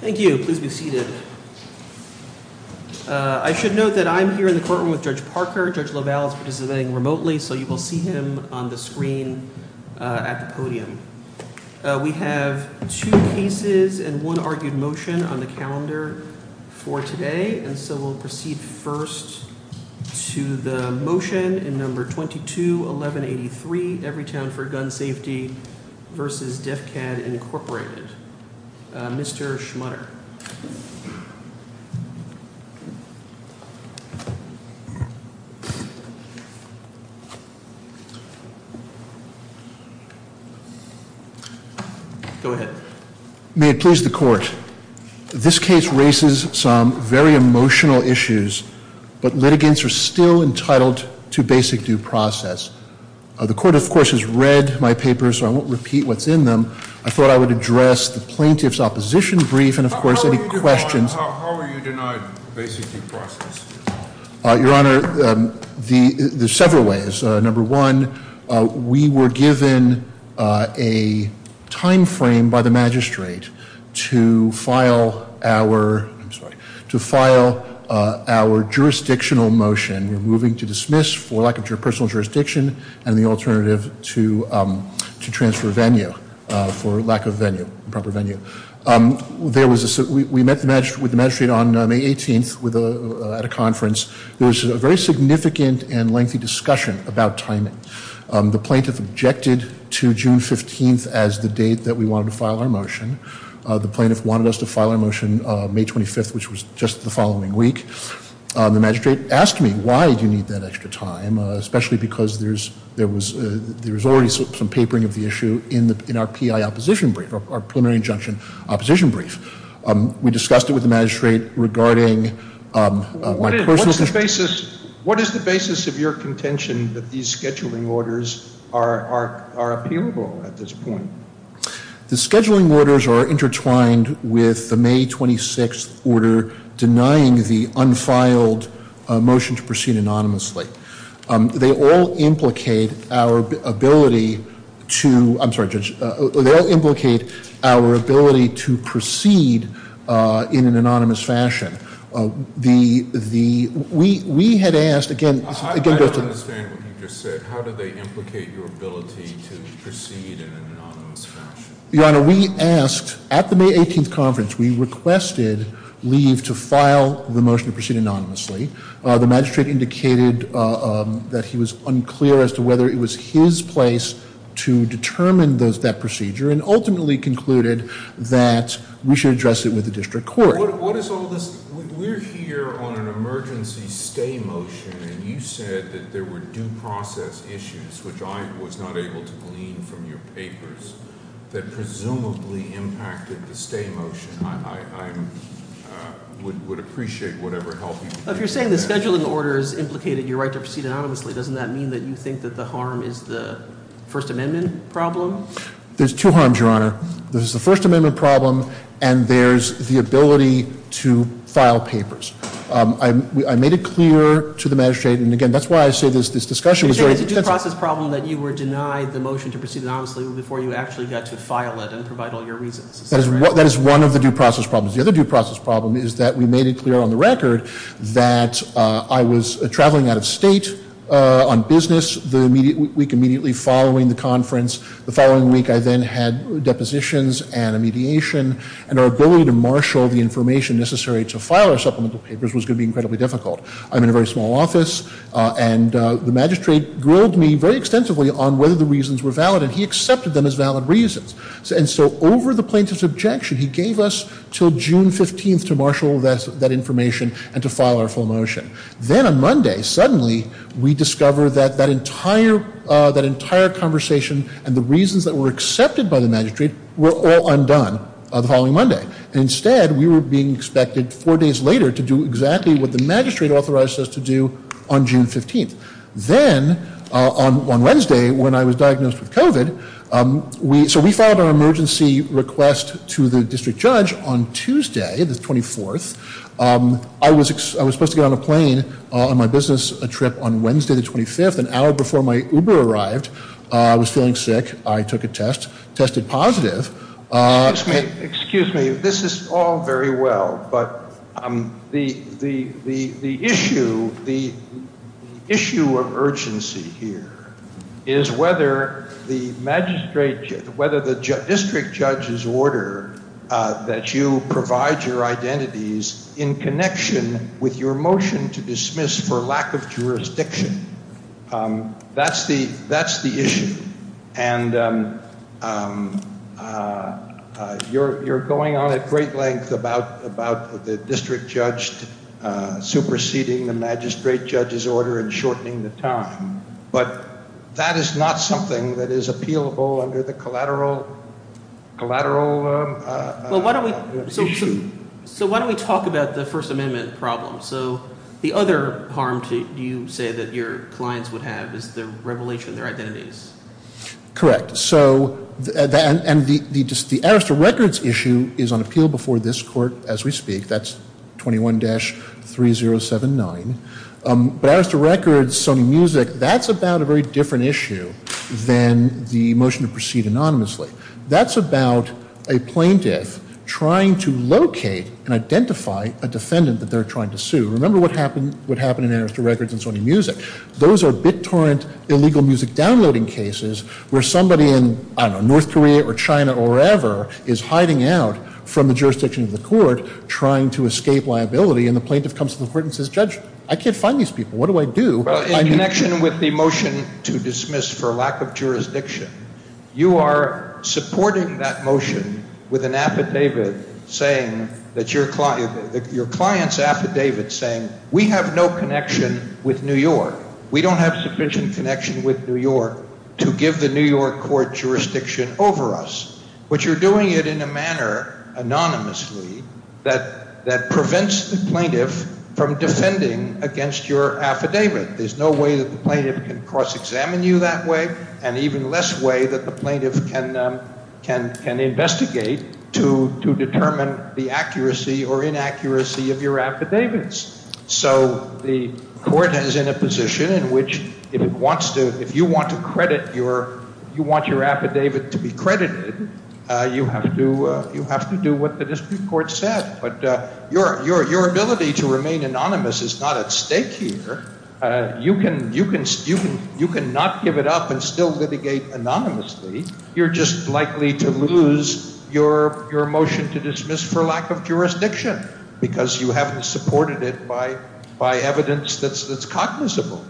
Thank you. Please be seated. I should note that I'm here in the courtroom with Judge Parker. Judge LaValle is participating remotely, so you will see him on the screen at the podium. We have two cases and one argued motion on the calendar for today, and so we'll proceed first to the motion in Number 22-1183, Everytown for Gun Safety v. Defcad, Inc. Mr. Schmutter. Go ahead. May it please the Court. This case raises some very emotional issues, but litigants are still entitled to basic due process. The Court, of course, has read my papers, so I won't repeat what's in them. I thought I would address the plaintiff's opposition brief and, of course, any questions. How are you denied basic due process? Your Honor, there's several ways. Number one, we were given a timeframe by the magistrate to file our jurisdictional motion. We're moving to dismiss for lack of personal jurisdiction and the alternative to transfer venue for lack of venue, proper venue. We met with the magistrate on May 18th at a conference. There was a very significant and lengthy discussion about timing. The plaintiff objected to June 15th as the date that we wanted to file our motion. The plaintiff wanted us to file our motion May 25th, which was just the following week. The magistrate asked me, why do you need that extra time, especially because there was already some papering of the issue in our PI opposition brief, our preliminary injunction opposition brief. We discussed it with the magistrate regarding my personal... What is the basis of your contention that these scheduling orders are appealable at this point? The scheduling orders are intertwined with the May 26th order denying the unfiled motion to proceed anonymously. They all implicate our ability to proceed in an anonymous fashion. I don't understand what you just said. How do they implicate your ability to proceed in an anonymous fashion? Your Honor, we asked at the May 18th conference, we requested leave to file the motion to proceed anonymously. The magistrate indicated that he was unclear as to whether it was his place to determine that procedure and ultimately concluded that we should address it with the district court. We're here on an emergency stay motion, and you said that there were due process issues, which I was not able to glean from your papers, that presumably impacted the stay motion. I would appreciate whatever help you could get. If you're saying the scheduling orders implicated your right to proceed anonymously, doesn't that mean that you think that the harm is the First Amendment problem? There's two harms, Your Honor. There's the First Amendment problem, and there's the ability to file papers. I made it clear to the magistrate, and again, that's why I say this discussion is very intensive. You're saying it's a due process problem that you were denied the motion to proceed anonymously before you actually got to file it and provide all your reasons. That is one of the due process problems. The other due process problem is that we made it clear on the record that I was traveling out of state on business the week immediately following the conference. The following week, I then had depositions and a mediation, and our ability to marshal the information necessary to file our supplemental papers was going to be incredibly difficult. I'm in a very small office, and the magistrate grilled me very extensively on whether the reasons were valid, and he accepted them as valid reasons. And so over the plaintiff's objection, he gave us until June 15th to marshal that information and to file our full motion. Then on Monday, suddenly, we discovered that that entire conversation and the reasons that were accepted by the magistrate were all undone the following Monday. Instead, we were being expected four days later to do exactly what the magistrate authorized us to do on June 15th. Then on Wednesday, when I was diagnosed with COVID, so we filed our emergency request to the district judge on Tuesday, the 24th. I was supposed to get on a plane on my business trip on Wednesday, the 25th, an hour before my Uber arrived. I was feeling sick. I took a test, tested positive. Excuse me. This is all very well, but the issue of urgency here is whether the district judge's order that you provide your identities in connection with your motion to dismiss for lack of jurisdiction, that's the issue. And you're going on at great length about the district judge superseding the magistrate judge's order and shortening the time. But that is not something that is appealable under the collateral issue. So why don't we talk about the First Amendment problem? So the other harm, do you say, that your clients would have is the revelation of their identities? Correct. So – and the Arrest of Records issue is on appeal before this court as we speak. That's 21-3079. But Arrest of Records, Sony Music, that's about a very different issue than the motion to proceed anonymously. That's about a plaintiff trying to locate and identify a defendant that they're trying to sue. Remember what happened in Arrest of Records and Sony Music. Those are BitTorrent illegal music downloading cases where somebody in, I don't know, North Korea or China or wherever is hiding out from the jurisdiction of the court trying to escape liability. And the plaintiff comes to the court and says, Judge, I can't find these people. What do I do? Well, in connection with the motion to dismiss for lack of jurisdiction, you are supporting that motion with an affidavit saying that your client – your client's affidavit saying we have no connection with New York. We don't have sufficient connection with New York to give the New York court jurisdiction over us. But you're doing it in a manner anonymously that prevents the plaintiff from defending against your affidavit. There's no way that the plaintiff can cross-examine you that way and even less way that the plaintiff can investigate to determine the accuracy or inaccuracy of your affidavits. So the court is in a position in which if it wants to – if you want to credit your – you want your affidavit to be credited, you have to do what the district court said. But your ability to remain anonymous is not at stake here. You can not give it up and still litigate anonymously. You're just likely to lose your motion to dismiss for lack of jurisdiction because you haven't supported it by evidence that's cognizable.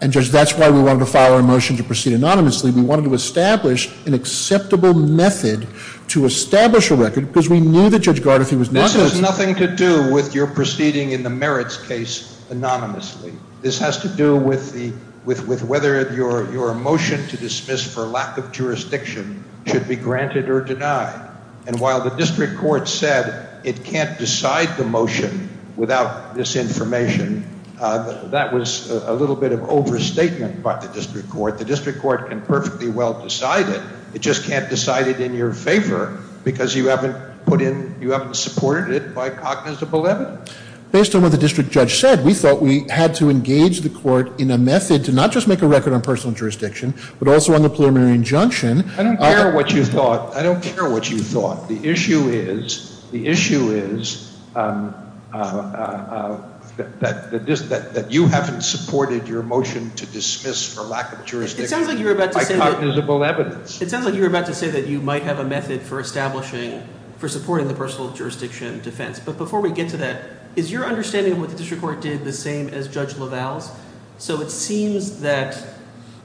And, Judge, that's why we wanted to file a motion to proceed anonymously. We wanted to establish an acceptable method to establish a record because we knew that Judge Gardner was not going to – This has nothing to do with your proceeding in the merits case anonymously. This has to do with the – with whether your motion to dismiss for lack of jurisdiction should be granted or denied. And while the district court said it can't decide the motion without this information, that was a little bit of overstatement by the district court. The district court can perfectly well decide it. It just can't decide it in your favor because you haven't put in – you haven't supported it by cognizable evidence. Based on what the district judge said, we thought we had to engage the court in a method to not just make a record on personal jurisdiction but also on the preliminary injunction. I don't care what you thought. I don't care what you thought. The issue is – the issue is that you haven't supported your motion to dismiss for lack of jurisdiction by cognizable evidence. It sounds like you were about to say that you might have a method for establishing – for supporting the personal jurisdiction defense. But before we get to that, is your understanding of what the district court did the same as Judge LaValle's? So it seems that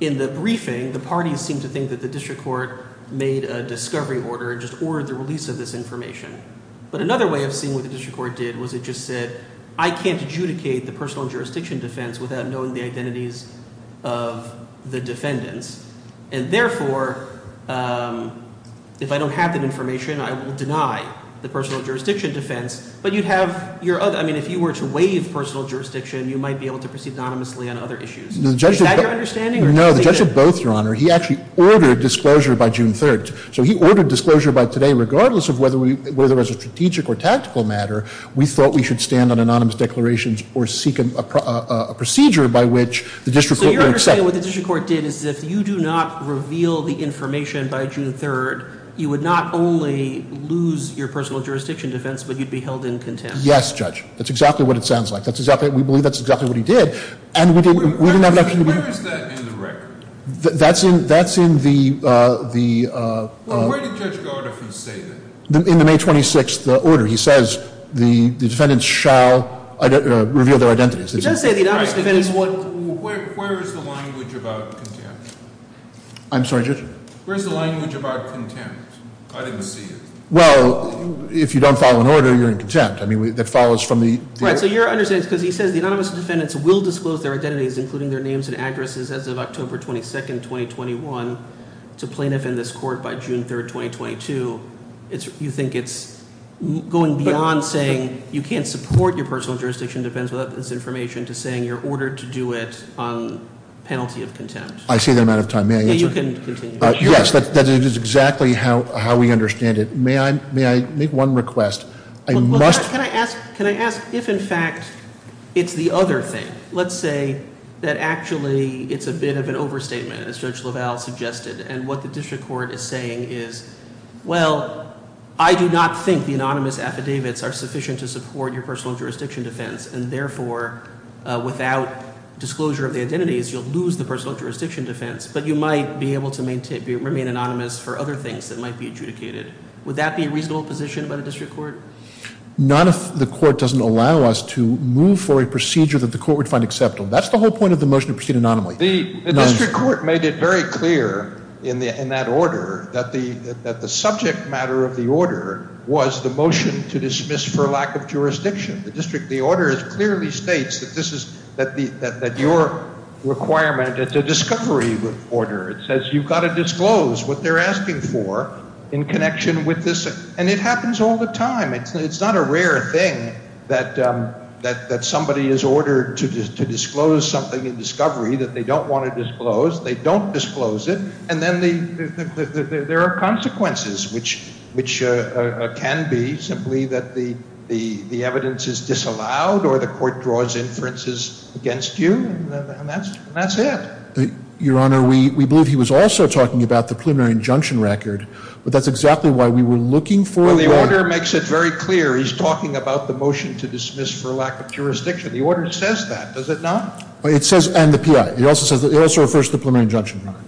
in the briefing, the parties seem to think that the district court made a discovery order and just ordered the release of this information. But another way of seeing what the district court did was it just said I can't adjudicate the personal jurisdiction defense without knowing the identities of the defendants. And therefore, if I don't have that information, I will deny the personal jurisdiction defense. But you'd have – I mean if you were to waive personal jurisdiction, you might be able to proceed anonymously on other issues. Is that your understanding? No, the judge did both, Your Honor. He actually ordered disclosure by June 3rd. So he ordered disclosure by today regardless of whether we – whether it was a strategic or tactical matter. We thought we should stand on anonymous declarations or seek a procedure by which the district court would accept. So your understanding of what the district court did is if you do not reveal the information by June 3rd, you would not only lose your personal jurisdiction defense, but you'd be held in contempt. Yes, Judge. That's exactly what it sounds like. That's exactly – we believe that's exactly what he did. And we didn't have an option to – Where is that in the record? That's in – that's in the – the – Well, where did Judge Gardner say that? In the May 26th order. He says the defendants shall reveal their identities. He does say the anonymous defendants would – Where is the language about contempt? I'm sorry, Judge? Where is the language about contempt? I didn't see it. Well, if you don't follow an order, you're in contempt. I mean, that follows from the – Right, so your understanding is because he says the anonymous defendants will disclose their identities, including their names and addresses, as of October 22nd, 2021, to plaintiff in this court by June 3rd, 2022. You think it's going beyond saying you can't support your personal jurisdiction defense without this information to saying you're ordered to do it on penalty of contempt. I see the amount of time. May I answer? You can continue. Yes, that is exactly how we understand it. May I make one request? I must – Well, can I ask – can I ask if, in fact, it's the other thing? Let's say that actually it's a bit of an overstatement, as Judge LaValle suggested, and what the district court is saying is, well, I do not think the anonymous affidavits are sufficient to support your personal jurisdiction defense, and therefore, without disclosure of the identities, you'll lose the personal jurisdiction defense, but you might be able to remain anonymous for other things that might be adjudicated. Would that be a reasonable position by the district court? Not if the court doesn't allow us to move for a procedure that the court would find acceptable. That's the whole point of the motion to proceed anonymously. The district court made it very clear in that order that the subject matter of the order was the motion to dismiss for lack of jurisdiction. The order clearly states that this is – that your requirement is a discovery order. It says you've got to disclose what they're asking for in connection with this, and it happens all the time. It's not a rare thing that somebody is ordered to disclose something in discovery that they don't want to disclose. They don't disclose it, and then there are consequences, which can be simply that the evidence is disallowed or the court draws inferences against you, and that's it. Your Honor, we believe he was also talking about the preliminary injunction record, but that's exactly why we were looking for – Well, the order makes it very clear. He's talking about the motion to dismiss for lack of jurisdiction. The order says that, does it not? It says – and the P.I. It also says – it also refers to the preliminary injunction record,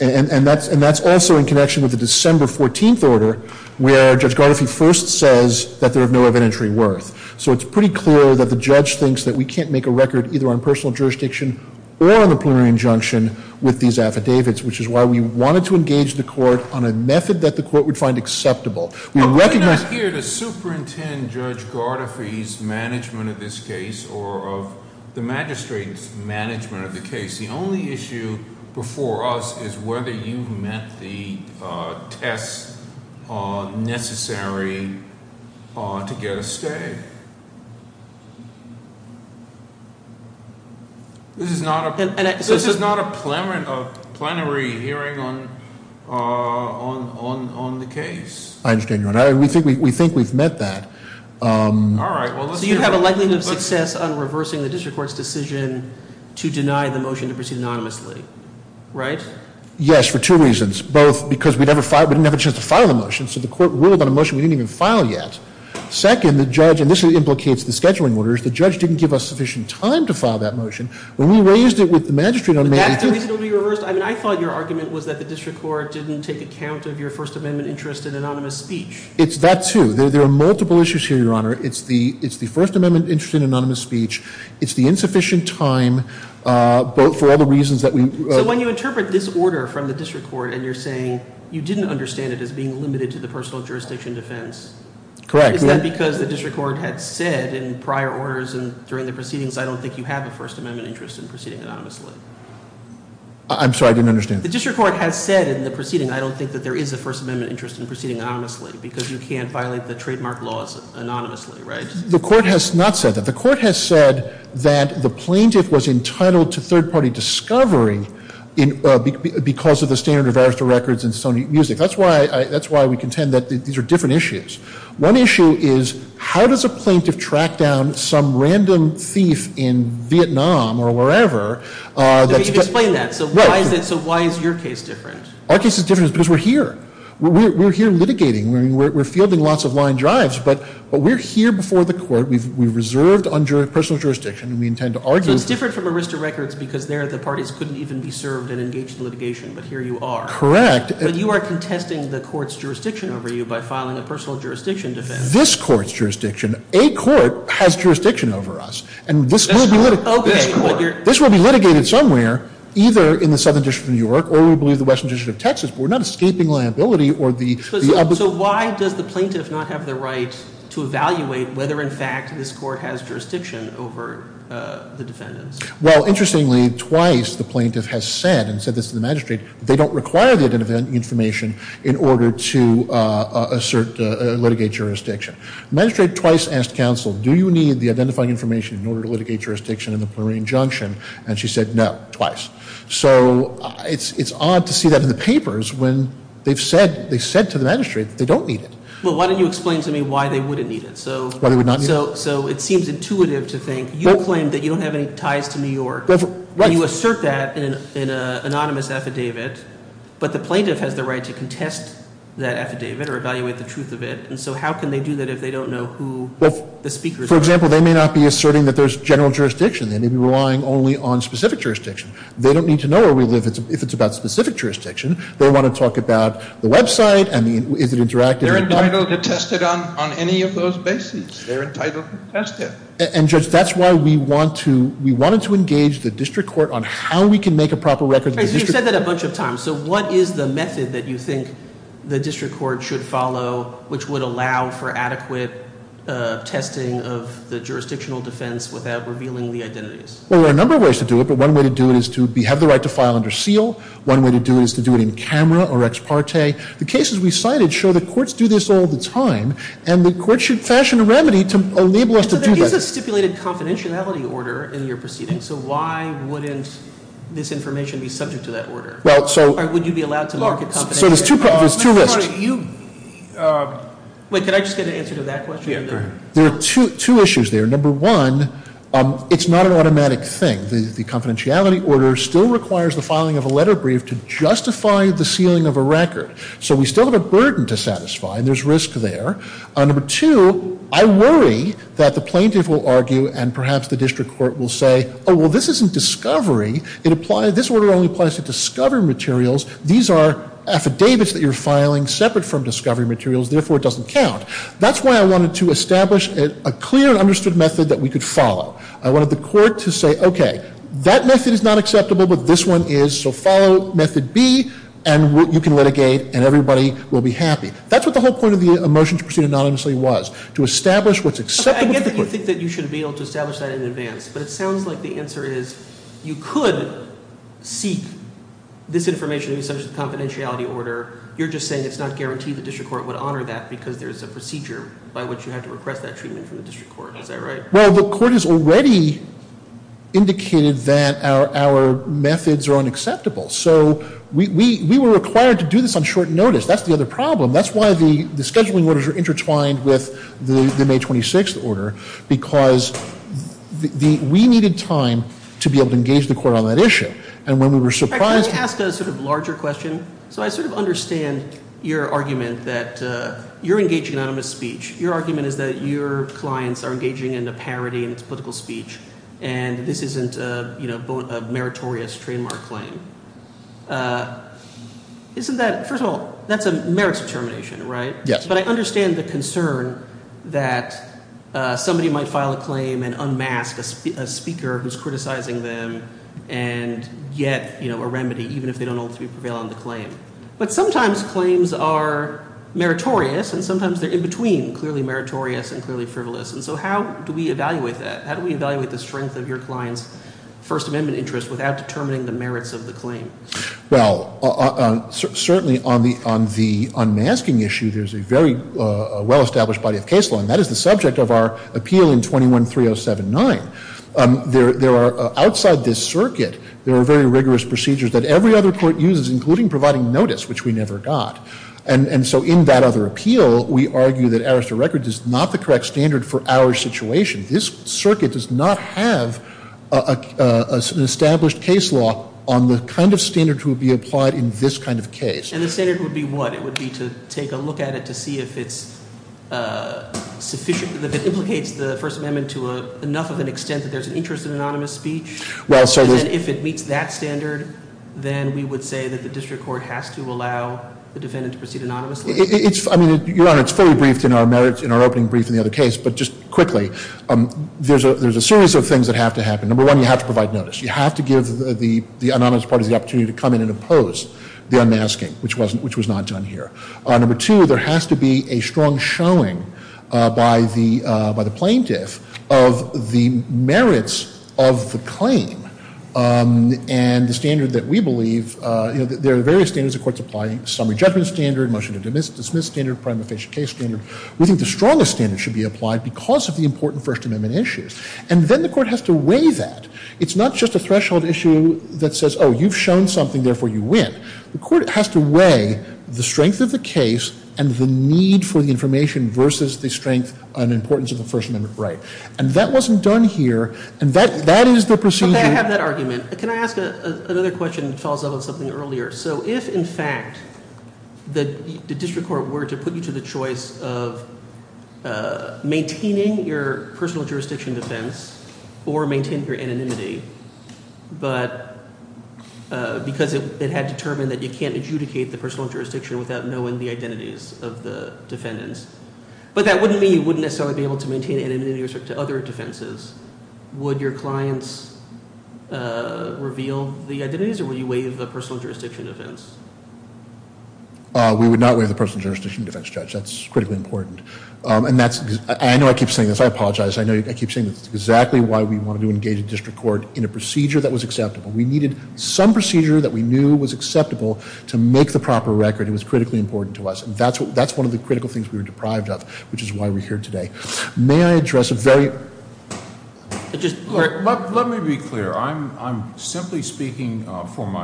and that's also in connection with the December 14th order, where Judge Gardoffy first says that there is no evidentiary worth. So it's pretty clear that the judge thinks that we can't make a record either on personal jurisdiction or on the preliminary injunction with these affidavits, which is why we wanted to engage the court on a method that the court would find acceptable. We recognize – I'm not here to superintendent Judge Gardoffy's management of this case or of the magistrate's management of the case. The only issue before us is whether you've met the tests necessary to get a stay. This is not a – this is not a plenary hearing on the case. I understand your – we think we've met that. All right. So you have a likelihood of success on reversing the district court's decision to deny the motion to proceed anonymously, right? Yes, for two reasons, both because we didn't have a chance to file the motion, so the court ruled on a motion we didn't even file yet. Second, the judge – and this implicates the scheduling orders – the judge didn't give us sufficient time to file that motion. When we raised it with the magistrate on May 18th – But that's the reason it will be reversed? I mean, I thought your argument was that the district court didn't take account of your First Amendment interest in anonymous speech. It's that too. There are multiple issues here, Your Honor. It's the First Amendment interest in anonymous speech. It's the insufficient time for all the reasons that we – So when you interpret this order from the district court and you're saying you didn't understand it as being limited to the personal jurisdiction defense. Correct. Is that because the district court had said in prior orders and during the proceedings, I don't think you have a First Amendment interest in proceeding anonymously? I'm sorry, I didn't understand. The district court has said in the proceeding, I don't think that there is a First Amendment interest in proceeding anonymously because you can't violate the trademark laws anonymously, right? The court has not said that. The court has said that the plaintiff was entitled to third-party discovery because of the standard of arrest of records and stony music. That's why we contend that these are different issues. One issue is how does a plaintiff track down some random thief in Vietnam or wherever that's – Explain that. So why is your case different? Our case is different because we're here. We're here litigating. We're fielding lots of line drives, but we're here before the court. We've reserved personal jurisdiction and we intend to argue – So it's different from arrest of records because there the parties couldn't even be served and engaged in litigation, but here you are. Correct. But you are contesting the court's jurisdiction over you by filing a personal jurisdiction defense. This court's jurisdiction – a court has jurisdiction over us. And this will be litigated somewhere either in the Southern District of New York or we believe the Western District of Texas, but we're not escaping liability or the – So why does the plaintiff not have the right to evaluate whether, in fact, this court has jurisdiction over the defendants? Well, interestingly, twice the plaintiff has said and said this to the magistrate that they don't require the identifying information in order to assert or litigate jurisdiction. The magistrate twice asked counsel, do you need the identifying information in order to litigate jurisdiction in the Plurine Junction? And she said no, twice. So it's odd to see that in the papers when they've said to the magistrate that they don't need it. Well, why don't you explain to me why they wouldn't need it? Why they would not need it? So it seems intuitive to think you claim that you don't have any ties to New York. You assert that in an anonymous affidavit, but the plaintiff has the right to contest that affidavit or evaluate the truth of it. And so how can they do that if they don't know who the speakers are? For example, they may not be asserting that there's general jurisdiction. They may be relying only on specific jurisdiction. They don't need to know where we live if it's about specific jurisdiction. They want to talk about the website and is it interactive? They're entitled to test it on any of those bases. They're entitled to test it. And, Judge, that's why we wanted to engage the district court on how we can make a proper record. You've said that a bunch of times. So what is the method that you think the district court should follow which would allow for adequate testing of the jurisdictional defense without revealing the identities? Well, there are a number of ways to do it, but one way to do it is to have the right to file under seal. One way to do it is to do it in camera or ex parte. The cases we cited show that courts do this all the time, and the court should fashion a remedy to enable us to do that. So there is a stipulated confidentiality order in your proceedings. So why wouldn't this information be subject to that order? Or would you be allowed to market confidentiality? So there's two risks. Wait, can I just get an answer to that question? There are two issues there. Number one, it's not an automatic thing. The confidentiality order still requires the filing of a letter brief to justify the sealing of a record. So we still have a burden to satisfy, and there's risk there. Number two, I worry that the plaintiff will argue and perhaps the district court will say, oh, well, this isn't discovery. This order only applies to discovery materials. These are affidavits that you're filing separate from discovery materials. Therefore, it doesn't count. That's why I wanted to establish a clear and understood method that we could follow. I wanted the court to say, okay, that method is not acceptable, but this one is. So follow method B, and you can litigate, and everybody will be happy. That's what the whole point of the motion to proceed anonymously was, to establish what's acceptable to the court. Okay, I get that you think that you should be able to establish that in advance, but it sounds like the answer is you could seek this information in the confidentiality order. You're just saying it's not guaranteed the district court would honor that because there's a procedure by which you have to request that treatment from the district court. Is that right? Well, the court has already indicated that our methods are unacceptable. So we were required to do this on short notice. That's the other problem. That's why the scheduling orders are intertwined with the May 26th order, because we needed time to be able to engage the court on that issue. And when we were surprised to- Can I ask a sort of larger question? So I sort of understand your argument that you're engaging in anonymous speech. Your argument is that your clients are engaging in a parody in its political speech, and this isn't a meritorious trademark claim. First of all, that's a merits determination, right? Yes. But I understand the concern that somebody might file a claim and unmask a speaker who's criticizing them and get a remedy, even if they don't ultimately prevail on the claim. But sometimes claims are meritorious, and sometimes they're in between clearly meritorious and clearly frivolous. And so how do we evaluate that? First Amendment interest without determining the merits of the claim? Well, certainly on the unmasking issue, there's a very well-established body of case law, and that is the subject of our appeal in 21-3079. Outside this circuit, there are very rigorous procedures that every other court uses, including providing notice, which we never got. And so in that other appeal, we argue that Arrester Records is not the correct standard for our situation. This circuit does not have an established case law on the kind of standards that would be applied in this kind of case. And the standard would be what? It would be to take a look at it to see if it's sufficient, if it implicates the First Amendment to enough of an extent that there's an interest in anonymous speech? Well, certainly. And if it meets that standard, then we would say that the district court has to allow the defendant to proceed anonymously? I mean, Your Honor, it's fully briefed in our merits, in our opening brief in the other case. But just quickly, there's a series of things that have to happen. Number one, you have to provide notice. You have to give the anonymous parties the opportunity to come in and impose the unmasking, which was not done here. Number two, there has to be a strong showing by the plaintiff of the merits of the claim. And the standard that we believe, you know, there are various standards the court's applying. Summary judgment standard, motion to dismiss standard, prime official case standard. We think the strongest standard should be applied because of the important First Amendment issues. And then the court has to weigh that. It's not just a threshold issue that says, oh, you've shown something, therefore you win. The court has to weigh the strength of the case and the need for the information versus the strength and importance of the First Amendment right. And that wasn't done here, and that is the procedure. Okay, I have that argument. Can I ask another question that follows up on something earlier? So if, in fact, the district court were to put you to the choice of maintaining your personal jurisdiction defense or maintain your anonymity, but because it had determined that you can't adjudicate the personal jurisdiction without knowing the identities of the defendants, but that wouldn't mean you wouldn't necessarily be able to maintain anonymity with respect to other defenses. Would your clients reveal the identities, or would you waive the personal jurisdiction defense? We would not waive the personal jurisdiction defense, Judge. That's critically important. And I know I keep saying this. I apologize. I know I keep saying this. It's exactly why we wanted to engage the district court in a procedure that was acceptable. We needed some procedure that we knew was acceptable to make the proper record. It was critically important to us. And that's one of the critical things we were deprived of, which is why we're here today. May I address a very- Let me be clear. I'm simply speaking for my-